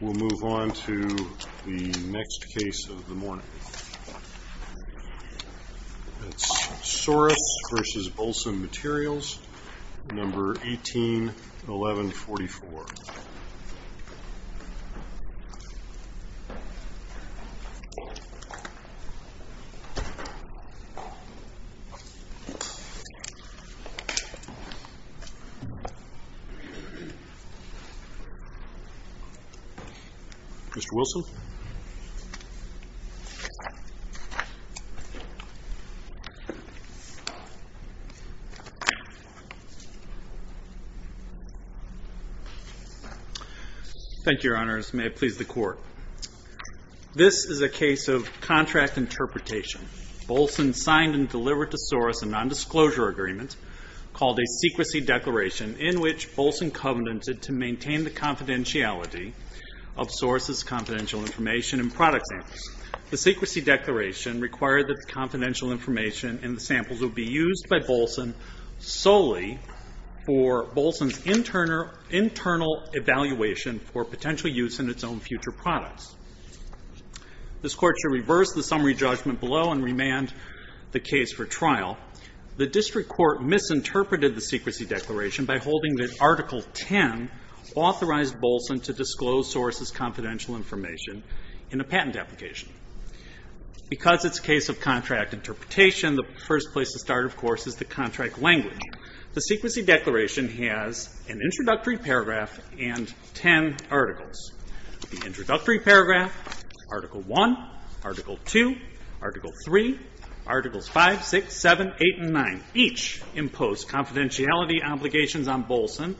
We'll move on to the next case of the morning. It's Sorus v. Bolson Materials, number 181144. Mr. Wilson. Thank you, Your Honors. May it please the Court. This is a case of contract interpretation. Bolson signed and delivered to Sorus a nondisclosure agreement called a secrecy declaration in which Bolson covenanted to maintain the confidentiality of Sorus's confidential information in product samples. The secrecy declaration required that the confidential information in the samples would be used by Bolson solely for Bolson's internal evaluation for potential use in its own future products. This Court should reverse the summary judgment below and remand the case for trial. The district court misinterpreted the secrecy declaration by holding that Article 10 authorized Bolson to disclose Sorus's confidential information in a patent application. Because it's a case of contract interpretation, the first place to start, of course, is the contract language. The secrecy declaration has an introductory paragraph and ten articles. The introductory paragraph, Article 1, Article 2, Article 3, Articles 5, 6, 7, 8, and 9 each impose confidentiality obligations on Bolson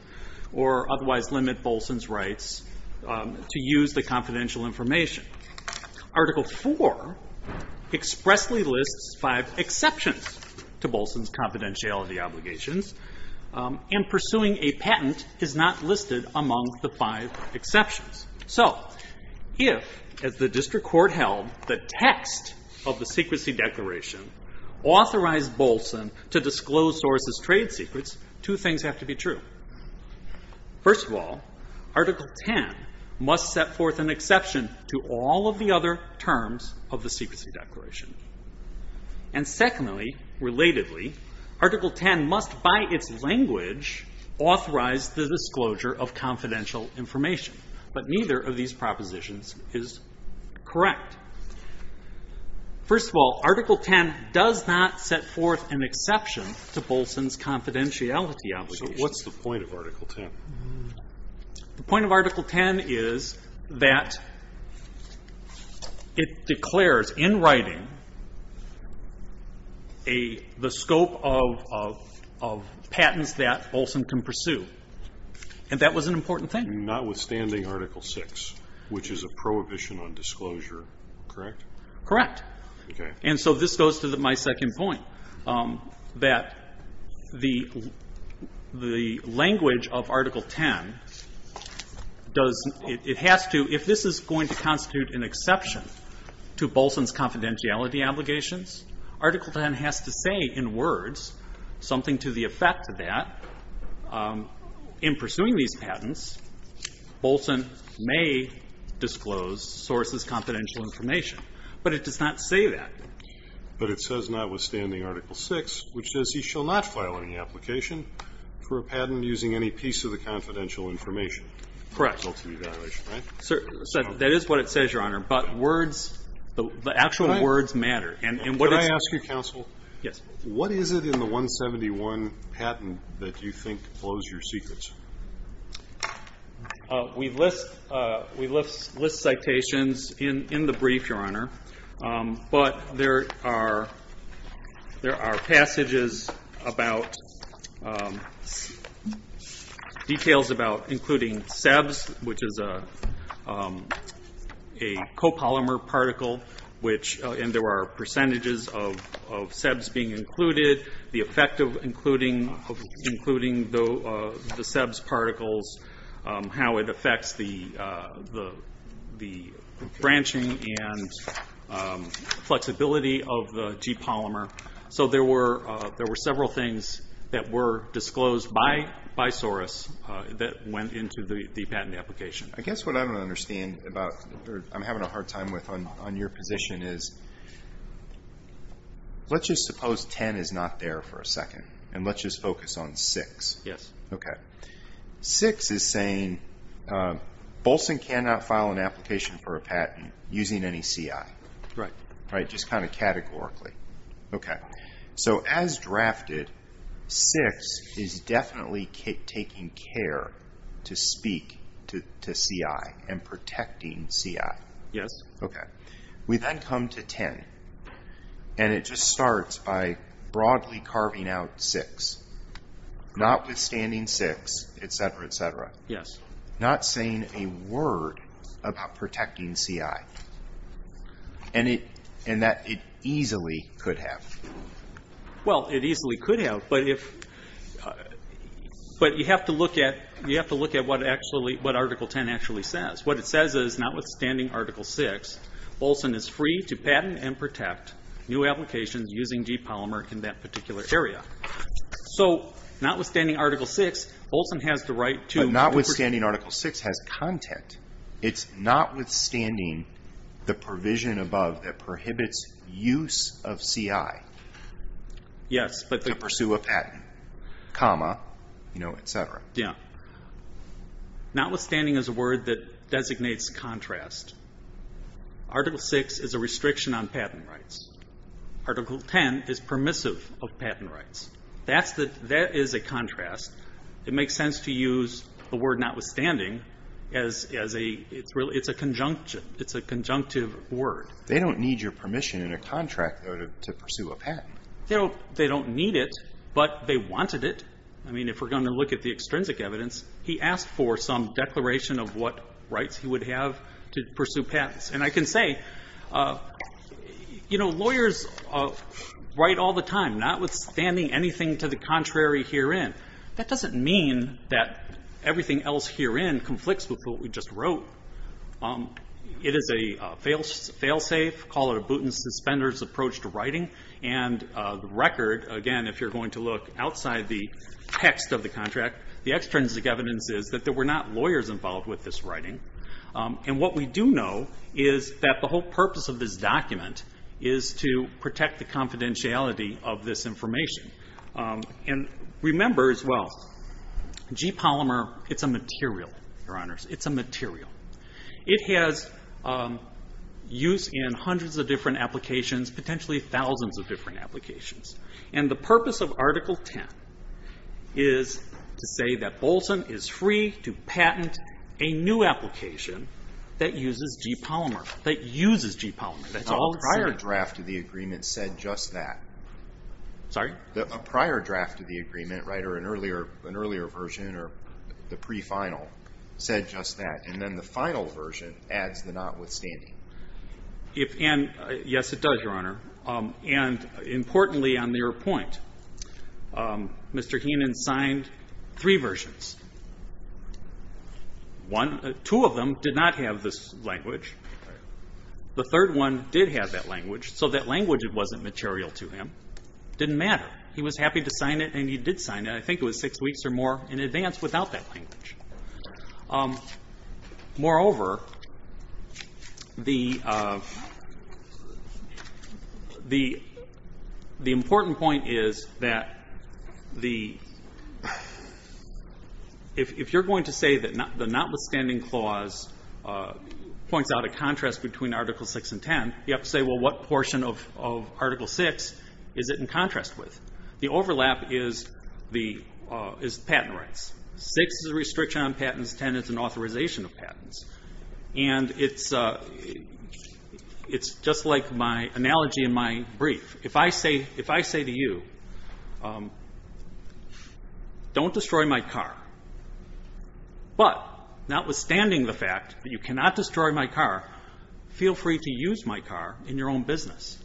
or otherwise limit Bolson's rights to use the confidential information. Article 4 expressly lists five exceptions to Bolson's confidentiality obligations and pursuing a patent is not listed among the five exceptions. So, if, as the district court held, the text of the secrecy declaration authorized Bolson to disclose Sorus's trade secrets, two things have to be true. First of all, Article 10 must set forth an exception to all of the other terms of the secrecy declaration. And secondly, relatedly, Article 10 must, by its language, authorize the disclosure of confidential information. But neither of these propositions is correct. First of all, Article 10 does not set forth an exception to Bolson's confidentiality obligations. So, what's the point of Article 10? The point of Article 10 is that it declares in writing the scope of patents that Bolson can pursue. And that was an important thing. Notwithstanding Article 6, which is a prohibition on disclosure, correct? Correct. Okay. And so this goes to my second point, that the language of Article 10 does, it has to, if this is going to constitute an exception to Bolson's confidentiality obligations, Article 10 has to say in words something to the effect that in pursuing these patents, Bolson may disclose Sorus's confidential information. But it does not say that. But it says, notwithstanding Article 6, which says he shall not file any application for a patent using any piece of the confidential information. Correct. That is what it says, Your Honor. But words, the actual words matter. Can I ask you, Counsel? Yes. What is it in the 171 patent that you think blows your secrets? We list citations in the brief, Your Honor. But there are passages about details about including SEBS, which is a copolymer particle, and there are percentages of SEBS being included, the effect of including the SEBS particles, how it affects the branching and flexibility of the G polymer. So there were several things that were disclosed by Sorus that went into the patent application. I guess what I don't understand about, or I'm having a hard time with on your position, is let's just suppose 10 is not there for a second, and let's just focus on 6. Yes. Okay. 6 is saying, Bolson cannot file an application for a patent using any CI. Right. Just kind of categorically. Okay. So as drafted, 6 is definitely taking care to speak to CI and protecting CI. Yes. Okay. We then come to 10, and it just starts by broadly carving out 6, notwithstanding 6, et cetera, et cetera. Yes. Not saying a word about protecting CI, and that it easily could have. Well, it easily could have, but you have to look at what Article 10 actually says. What it says is, notwithstanding Article 6, Bolson is free to patent and protect new applications using G polymer in that particular area. So notwithstanding Article 6, Bolson has the right to... But notwithstanding Article 6 has content. It's notwithstanding the provision above that prohibits use of CI to pursue a patent, comma, et cetera. Yes. Notwithstanding is a word that designates contrast. Article 6 is a restriction on patent rights. Article 10 is permissive of patent rights. That is a contrast. It makes sense to use the word notwithstanding as a conjunction. It's a conjunctive word. They don't need your permission in a contract, though, to pursue a patent. They don't need it, but they wanted it. I mean, if we're going to look at the extrinsic evidence, he asked for some declaration of what rights he would have to pursue patents. And I can say, lawyers write all the time, notwithstanding anything to the contrary herein. That doesn't mean that everything else herein conflicts with what we just wrote. It is a fail-safe, call it a boot-and-suspenders approach to writing. And the record, again, if you're going to look outside the text of the contract, the extrinsic evidence is that there were not lawyers involved with this writing. And what we do know is that the whole purpose of this document is to protect the confidentiality of this information. And remember as well, G-Polymer, it's a material, Your Honors. It's a material. It has use in hundreds of different applications, potentially thousands of different applications. And the purpose of Article 10 is to say that Bolson is free to patent a new application that uses G-Polymer. That uses G-Polymer. That's all it says. And the draft of the agreement said just that. Sorry? A prior draft of the agreement, right, or an earlier version or the pre-final said just that. And then the final version adds the notwithstanding. Yes, it does, Your Honor. And importantly on your point, Mr. Heenan signed three versions. One, two of them did not have this language. The third one did have that language, so that language wasn't material to him. It didn't matter. He was happy to sign it, and he did sign it. I think it was six weeks or more in advance without that language. Moreover, the important point is that if you're going to say that the notwithstanding clause points out a contrast between Article 6 and 10, you have to say, well, what portion of Article 6 is it in contrast with? The overlap is patent rights. 6 is a restriction on patents. 10 is an authorization of patents. And it's just like my analogy in my brief. If I say to you, don't destroy my car, but notwithstanding the fact that you cannot destroy my car, feel free to use my car in your own business.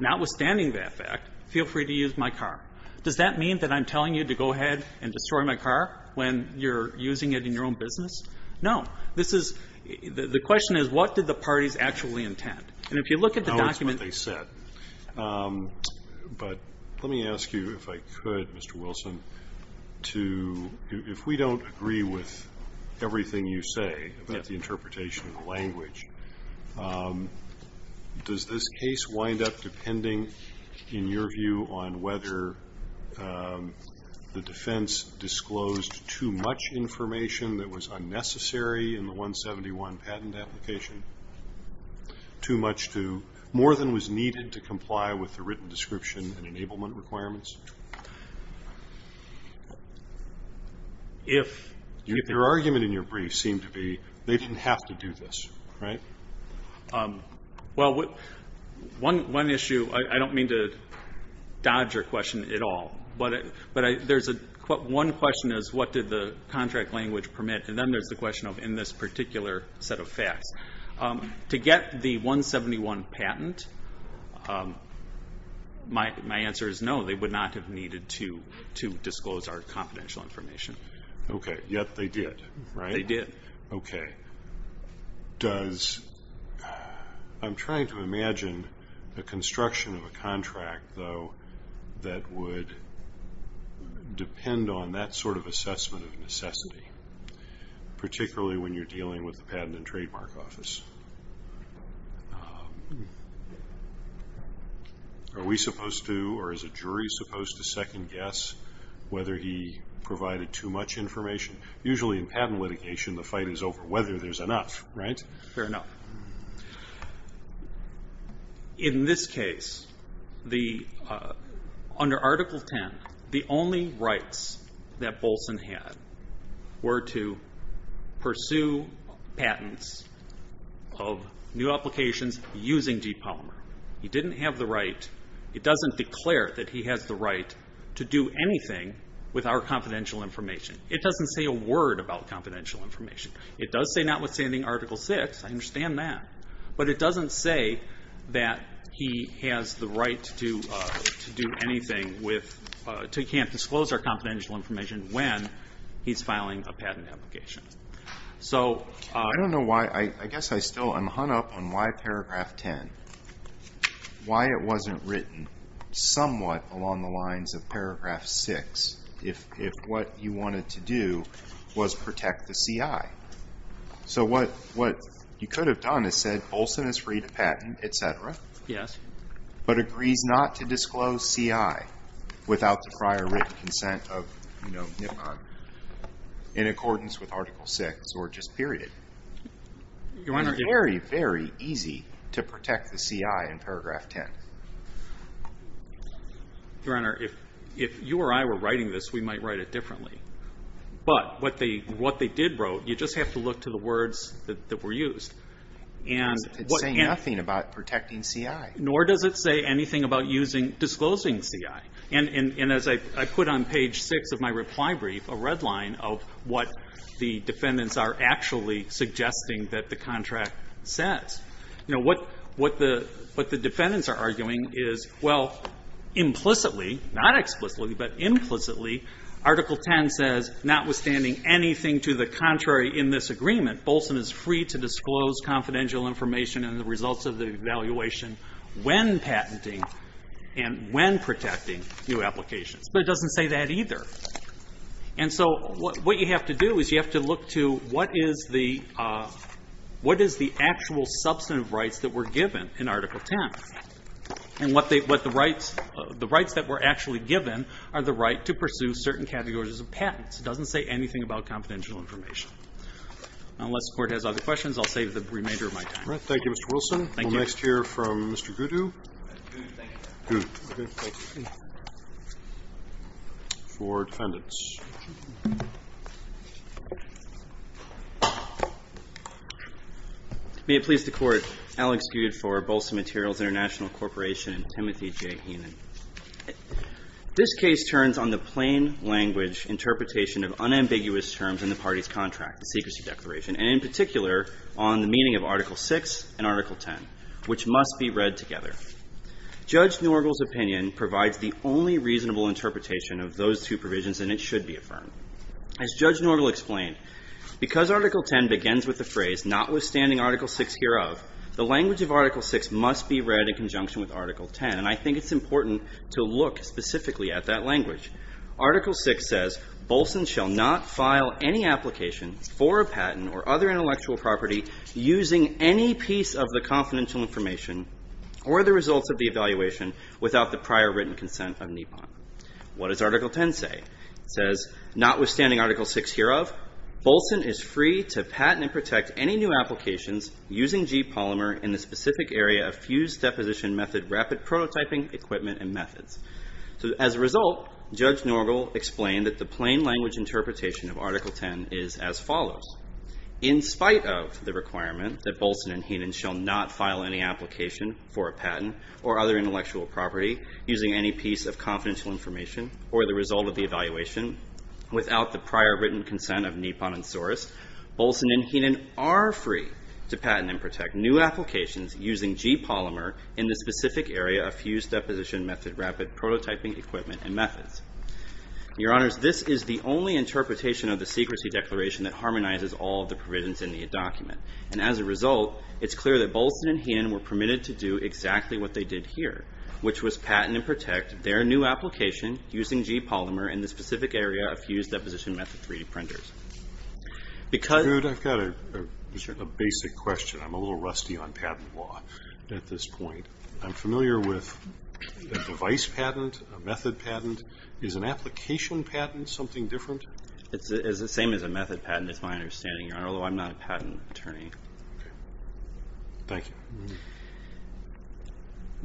Notwithstanding that fact, feel free to use my car. Does that mean that I'm telling you to go ahead and destroy my car when you're using it in your own business? No. This is the question is, what did the parties actually intend? And if you look at the document they said. But let me ask you, if I could, Mr. Wilson, to, if we don't agree with everything you say about the interpretation of the language, does this case wind up depending, in your view, on whether the defense disclosed too much information that was unnecessary in the 171 patent application, too much to, more than was needed to comply with the written description and enablement requirements? Your argument in your brief seemed to be they didn't have to do this, right? Well, one issue, I don't mean to dodge your question at all, but one question is what did the contract language permit, and then there's the question of in this particular set of facts. To get the 171 patent, my answer is no. They would not have needed to disclose our confidential information. Okay. Yet they did, right? They did. Okay. Does, I'm trying to imagine the construction of a contract, though, that would depend on that sort of assessment of necessity, particularly when you're dealing with the Patent and Trademark Office. Are we supposed to, or is a jury supposed to second-guess whether he provided too much information? Usually in patent litigation, the fight is over whether there's enough, right? Fair enough. In this case, under Article 10, the only rights that Bolson had were to pursue patents of new applications using DeepPolymer. He didn't have the right, he doesn't declare that he has the right to do anything with our confidential information. It doesn't say a word about confidential information. It does say notwithstanding Article 6, I understand that, but it doesn't say that he has the right to do anything with, he can't disclose our confidential information when he's filing a patent application. I don't know why, I guess I still am hung up on why Paragraph 10, why it wasn't written somewhat along the lines of Paragraph 6, if what you wanted to do was protect the CI. So what you could have done is said Bolson is free to patent, et cetera, but agrees not to disclose CI without the prior written consent of Nippon in accordance with Article 6, or just period. It's very, very easy to protect the CI in Paragraph 10. Your Honor, if you or I were writing this, we might write it differently. But what they did wrote, you just have to look to the words that were used. And what and- It's saying nothing about protecting CI. Nor does it say anything about using, disclosing CI. And as I put on page 6 of my reply brief, a red line of what the defendants are actually suggesting that the contract says. You know, what the defendants are arguing is, well, implicitly, not explicitly, but implicitly, Article 10 says, notwithstanding anything to the contrary in this agreement, Bolson is free to disclose confidential information and the results of the evaluation when patenting and when protecting new applications. But it doesn't say that either. And so what you have to do is you have to look to what is the actual substantive rights that were given in Article 10. And what the rights that were actually given are the right to pursue certain categories of patents. It doesn't say anything about confidential information. Unless the Court has other questions, I'll save the remainder of my time. All right. Thank you, Mr. Wilson. Thank you. We'll next hear from Mr. Gudu. Thank you. Gudu. Okay. Thank you. For defendants. May it please the Court. Alex Gudu for Bolson Materials International Corporation and Timothy J. Heenan. This case turns on the plain language interpretation of unambiguous terms in the party's contract, the secrecy declaration, and in particular on the meaning of Article 6 and Article 10, which must be read together. Judge Norgel's opinion provides the only reasonable interpretation of those two provisions and it should be affirmed. As Judge Norgel explained, because Article 10 begins with the phrase, notwithstanding Article 6 hereof, the language of Article 6 must be read in conjunction with Article 10. And I think it's important to look specifically at that language. Article 6 says, Bolson shall not file any application for a patent or other intellectual property using any piece of the confidential information or the results of the evaluation without the prior written consent of NEPOM. What does Article 10 say? It says, notwithstanding Article 6 hereof, Bolson is free to patent and protect any new applications using G-polymer in the specific area of fused deposition method rapid prototyping equipment and methods. So as a result, Judge Norgel explained that the plain language interpretation of Article 10 is as follows. In spite of the requirement that Bolson and Heenan shall not file any application for a patent or other intellectual property using any piece of confidential information or the result of the evaluation without the prior written consent of NEPOM and source, Bolson and Heenan are free to patent and protect new applications using G-polymer in the specific area of fused deposition method rapid prototyping equipment and methods. Your Honors, this is the only interpretation of the secrecy declaration that harmonizes all of the provisions in the document. And as a result, it's clear that Bolson and Heenan were permitted to do exactly what they did here, which was patent and protect their new application using G-polymer in the specific area of fused deposition method 3D printers. Because... Good, I've got a basic question. I'm a little rusty on patent law at this point. I'm familiar with a device patent, a method patent. Is an application patent something different? It's the same as a method patent, is my understanding, Your Honor, although I'm not a patent attorney. Thank you.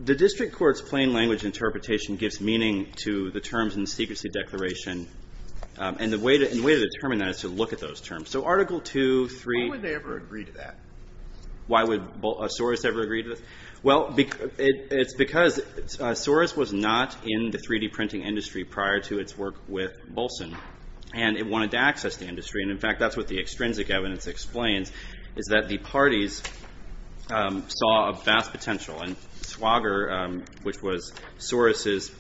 The district court's plain language interpretation gives meaning to the terms in the secrecy declaration. And the way to determine that is to look at those terms. So Article 2, 3... Why would they ever agree to that? Why would Soros ever agree to this? Well, it's because Soros was not in the 3D printing industry prior to its work with Bolson. And it wanted to access the industry. And, in fact, that's what the extrinsic evidence explains, is that the parties saw a vast potential. And Swager, which was Soros'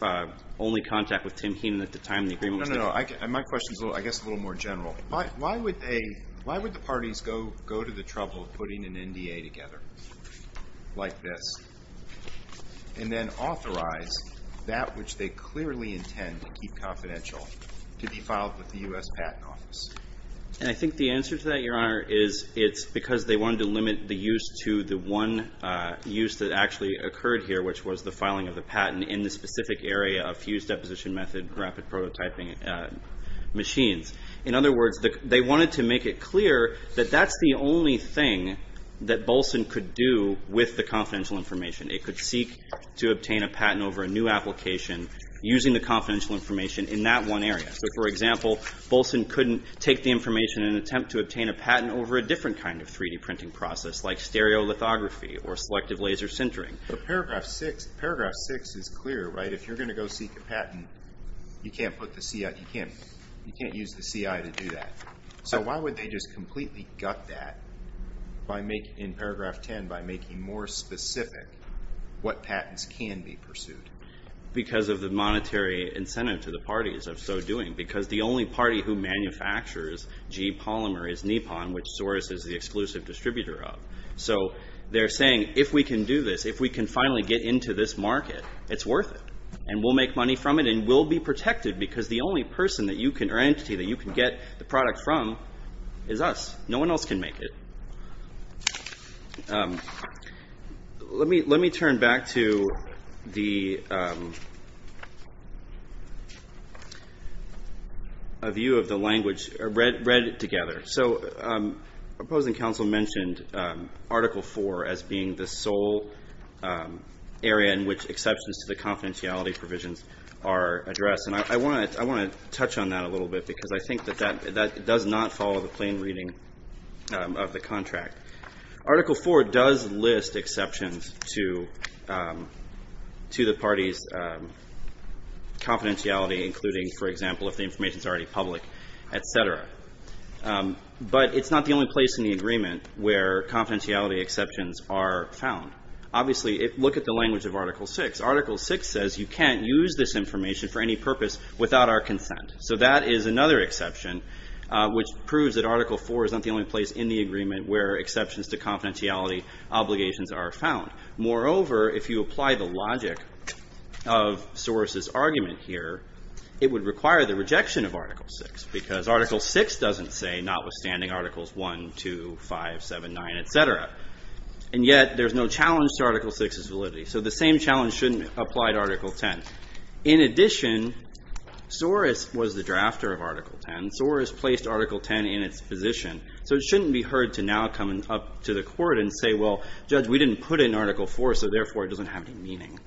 only contact with Tim Heenan at the time the agreement was... No, no, no. My question's, I guess, a little more general. Why would the parties go to the trouble of putting an NDA together like this and then authorize that which they clearly intend to keep confidential to be filed with the U.S. Patent Office? And I think the answer to that, Your Honor, is it's because they wanted to limit the use to the one use that actually occurred here, which was the filing of the patent in the specific area of fused deposition method and rapid prototyping machines. In other words, they wanted to make it clear that that's the only thing that Bolson could do with the confidential information. It could seek to obtain a patent over a new application using the confidential information in that one area. So, for example, Bolson couldn't take the information and attempt to obtain a patent over a different kind of 3-D printing process like stereolithography or selective laser sintering. But Paragraph 6 is clear, right? If you're going to go seek a patent, you can't use the CI to do that. So why would they just completely gut that in Paragraph 10 by making more specific what patents can be pursued? Because of the monetary incentive to the parties of so doing. Because the only party who manufactures G-Polymer is Nippon, which Soros is the exclusive distributor of. So they're saying, if we can do this, if we can finally get into this market, it's worth it. And we'll make money from it and we'll be protected because the only entity that you can get the product from is us. No one else can make it. Let me turn back to the view of the language read together. So opposing counsel mentioned Article 4 as being the sole area in which exceptions to the confidentiality provisions are addressed. And I want to touch on that a little bit because I think that that does not follow the plain reading of the contract. Article 4 does list exceptions to the parties' confidentiality, including, for example, if the information is already public, et cetera. But it's not the only place in the agreement where confidentiality exceptions are found. Obviously, look at the language of Article 6. Article 6 says you can't use this information for any purpose without our consent. So that is another exception, which proves that Article 4 is not the only place in the agreement where exceptions to confidentiality obligations are found. Moreover, if you apply the logic of Soros' argument here, it would require the rejection of Article 6 because Article 6 doesn't say notwithstanding Articles 1, 2, 5, 7, 9, et cetera. And yet there's no challenge to Article 6's validity. So the same challenge shouldn't apply to Article 10. In addition, Soros was the drafter of Article 10. Soros placed Article 10 in its position. So it shouldn't be heard to now come up to the court and say, well, Judge, we didn't put in Article 4, so therefore it doesn't have any meaning.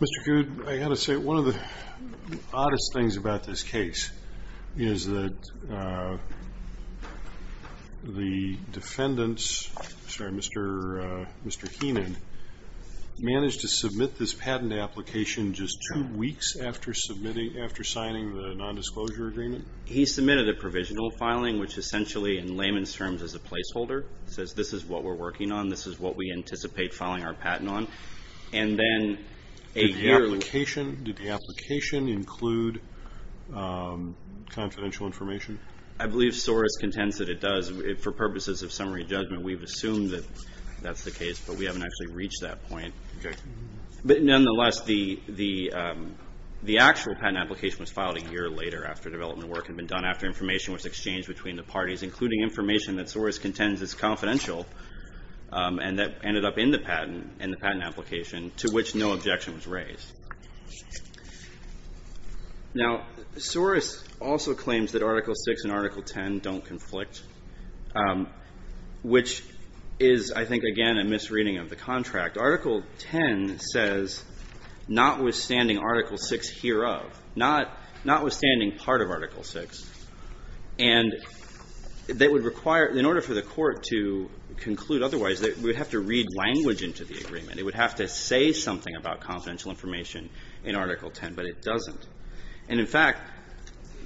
Mr. Good, I've got to say one of the oddest things about this case is that the defendants Mr. Heenan managed to submit this patent application just two weeks after signing the nondisclosure agreement? He submitted a provisional filing, which essentially, in layman's terms, is a placeholder. It says this is what we're working on, this is what we anticipate filing our patent on. And then a year later Did the application include confidential information? I believe Soros contends that it does. For purposes of summary judgment, we've assumed that that's the case, but we haven't actually reached that point. But nonetheless, the actual patent application was filed a year later after development work had been done, after information was exchanged between the parties, including information that Soros contends is confidential and that ended up in the patent application, to which no objection was raised. Now, Soros also claims that Article 6 and Article 10 don't conflict, which is, I think, again, a misreading of the contract. Article 10 says, notwithstanding Article 6 hereof, notwithstanding part of Article 6, and that would require, in order for the Court to conclude otherwise, that we would have to read language into the agreement. It would have to say something about confidential information in Article 10, but it doesn't. And, in fact,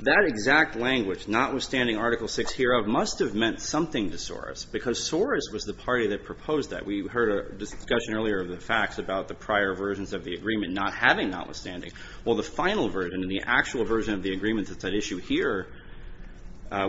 that exact language, notwithstanding Article 6 hereof, must have meant something to Soros, because Soros was the party that proposed that. We heard a discussion earlier of the facts about the prior versions of the agreement not having notwithstanding. Well, the final version and the actual version of the agreement that's at issue here,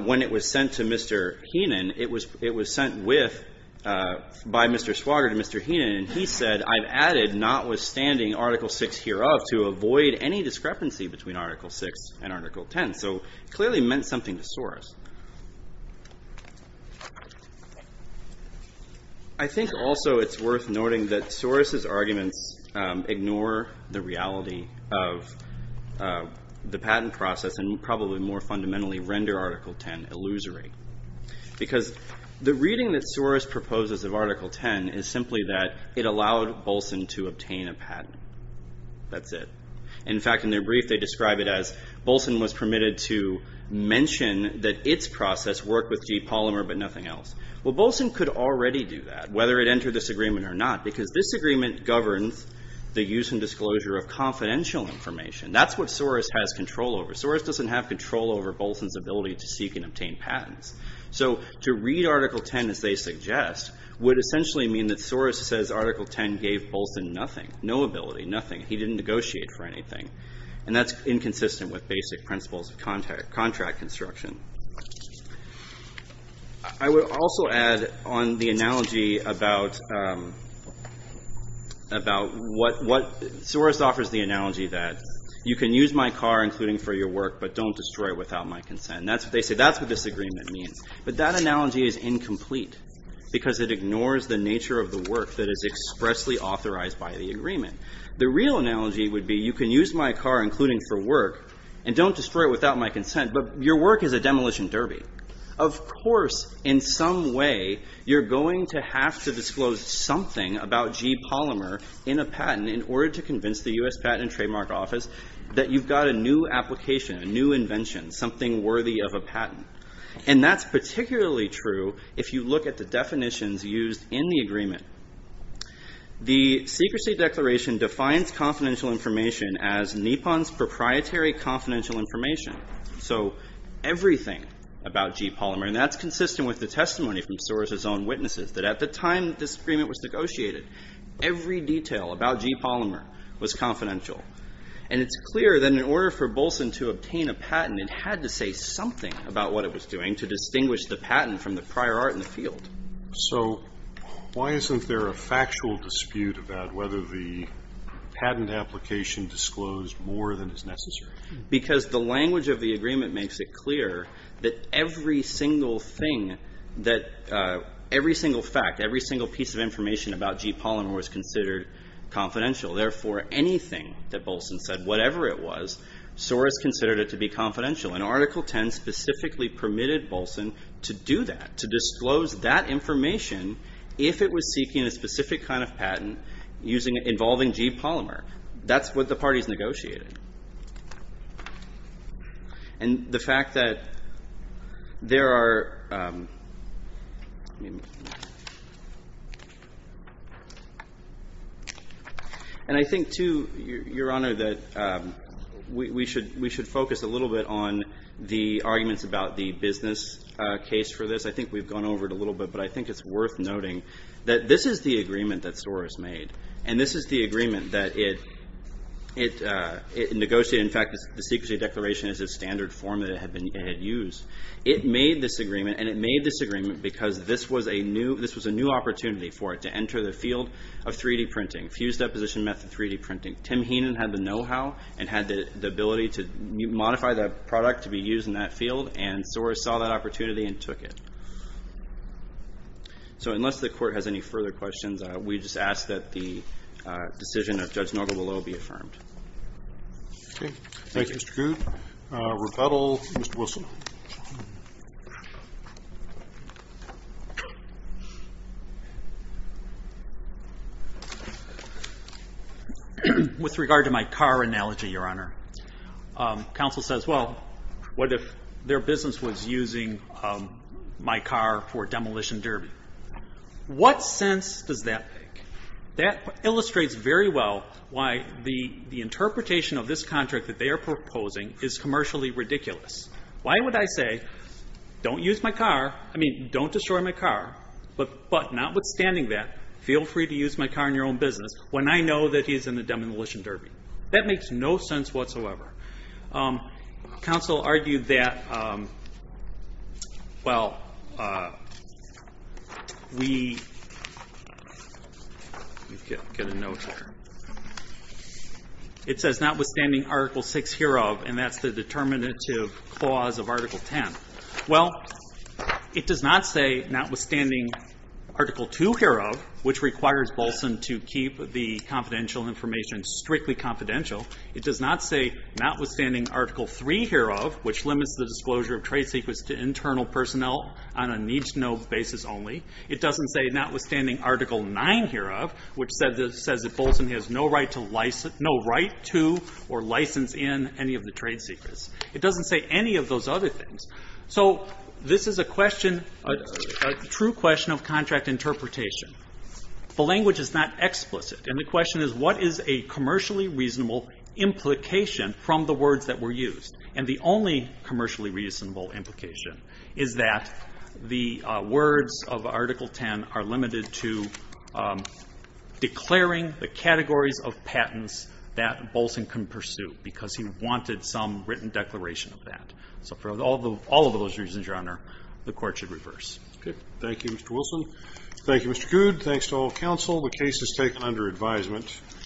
when it was sent to Mr. Heenan, it was sent with, by Mr. Swager to Mr. Heenan, and he said, I've added, notwithstanding Article 6 hereof, to avoid any discrepancy between Article 6 and Article 10. So, it clearly meant something to Soros. I think, also, it's worth noting that Soros' arguments ignore the reality of the patent process, and probably more fundamentally render Article 10 illusory. Because the reading that Soros proposes of Article 10 is simply that it allowed Bolson to obtain a patent. That's it. In fact, in their brief, they describe it as, Bolson was permitted to mention that its process worked with G. Polymer, but nothing else. Well, Bolson could already do that, whether it entered this agreement or not, because this agreement governs the use and disclosure of confidential information. That's what Soros has control over. Soros doesn't have control over Bolson's ability to seek and obtain patents. So, to read Article 10 as they suggest would essentially mean that Soros says Article 10 gave Bolson nothing. No ability, nothing. He didn't negotiate for anything. And that's inconsistent with basic principles of contract construction. I would also add on the analogy about what, Soros offers the analogy that you can use my car, including for your work, but don't destroy it without my consent. And that's what they say. That's what this agreement means. But that analogy is incomplete, because it ignores the nature of the work that is expressly authorized by the agreement. The real analogy would be you can use my car, including for work, and don't destroy it without my consent, but your work is a demolition derby. Of course, in some way, you're going to have to disclose something about G. Polymer in a patent in order to convince the U.S. Patent and Trademark Office that you've got a new application, a new invention, something worthy of a patent. And that's particularly true if you look at the definitions used in the agreement. The secrecy declaration defines confidential information as NIPON's proprietary confidential information. So everything about G. Polymer, and that's consistent with the testimony from Soros' own witnesses, that at the time this agreement was negotiated, every detail about G. Polymer was confidential. And it's clear that in order for Bolson to obtain a patent, it had to say something about what it was doing to distinguish the patent from the prior art in the field. So why isn't there a factual dispute about whether the patent application disclosed more than is necessary? Because the language of the agreement makes it clear that every single thing, that every single fact, every single piece of information about G. Polymer was considered confidential. Therefore, anything that Bolson said, whatever it was, Soros considered it to be confidential. And Article 10 specifically permitted Bolson to do that, to disclose that information if it was seeking a specific kind of patent involving G. Polymer. That's what the parties negotiated. And the fact that there are – and I think, too, Your Honor, that we should focus a little bit on the arguments about the business case for this. I think we've gone over it a little bit, but I think it's worth noting that this is the agreement that Soros made. And this is the agreement that it negotiated. In fact, the secrecy declaration is a standard form that it had used. It made this agreement, and it made this agreement because this was a new opportunity for it to enter the field of 3-D printing, fused deposition method 3-D printing. Tim Heenan had the know-how and had the ability to modify the product to be used in that field, and Soros saw that opportunity and took it. So unless the Court has any further questions, we just ask that the decision of Judge Nogle will all be affirmed. Okay. Thank you, Mr. Goode. Rebuttal, Mr. Wilson. With regard to my car analogy, Your Honor, counsel says, well, what if their business was using my car for a demolition derby? What sense does that make? That illustrates very well why the interpretation of this contract that they are proposing is commercially ridiculous. Why would I say, don't use my car, I mean, don't destroy my car, but notwithstanding that, feel free to use my car in your own business when I know that he's in a demolition derby? That makes no sense whatsoever. Counsel argued that, well, we get a note here. It says, notwithstanding Article 6 hereof, and that's the determinative clause of Article 10. Well, it does not say, notwithstanding Article 2 hereof, which requires Wilson to keep the confidential information strictly confidential, it does not say, notwithstanding Article 3 hereof, which limits the disclosure of trade secrets to internal personnel on a need-to-know basis only, it doesn't say, notwithstanding Article 9 hereof, which says that Wilson has no right to or license in any of the trade secrets. It doesn't say any of those other things. So this is a question, a true question of contract interpretation. The language is not explicit. And the question is, what is a commercially reasonable implication from the words that were used? And the only commercially reasonable implication is that the words of Article 10 are limited to declaring the categories of patents that Bolson can pursue, because he wanted some written declaration of that. So for all of those reasons, Your Honor, the Court should reverse. Okay. Thank you, Mr. Wilson. Thank you, Mr. Good. Thanks to all counsel. The case is taken under advisement.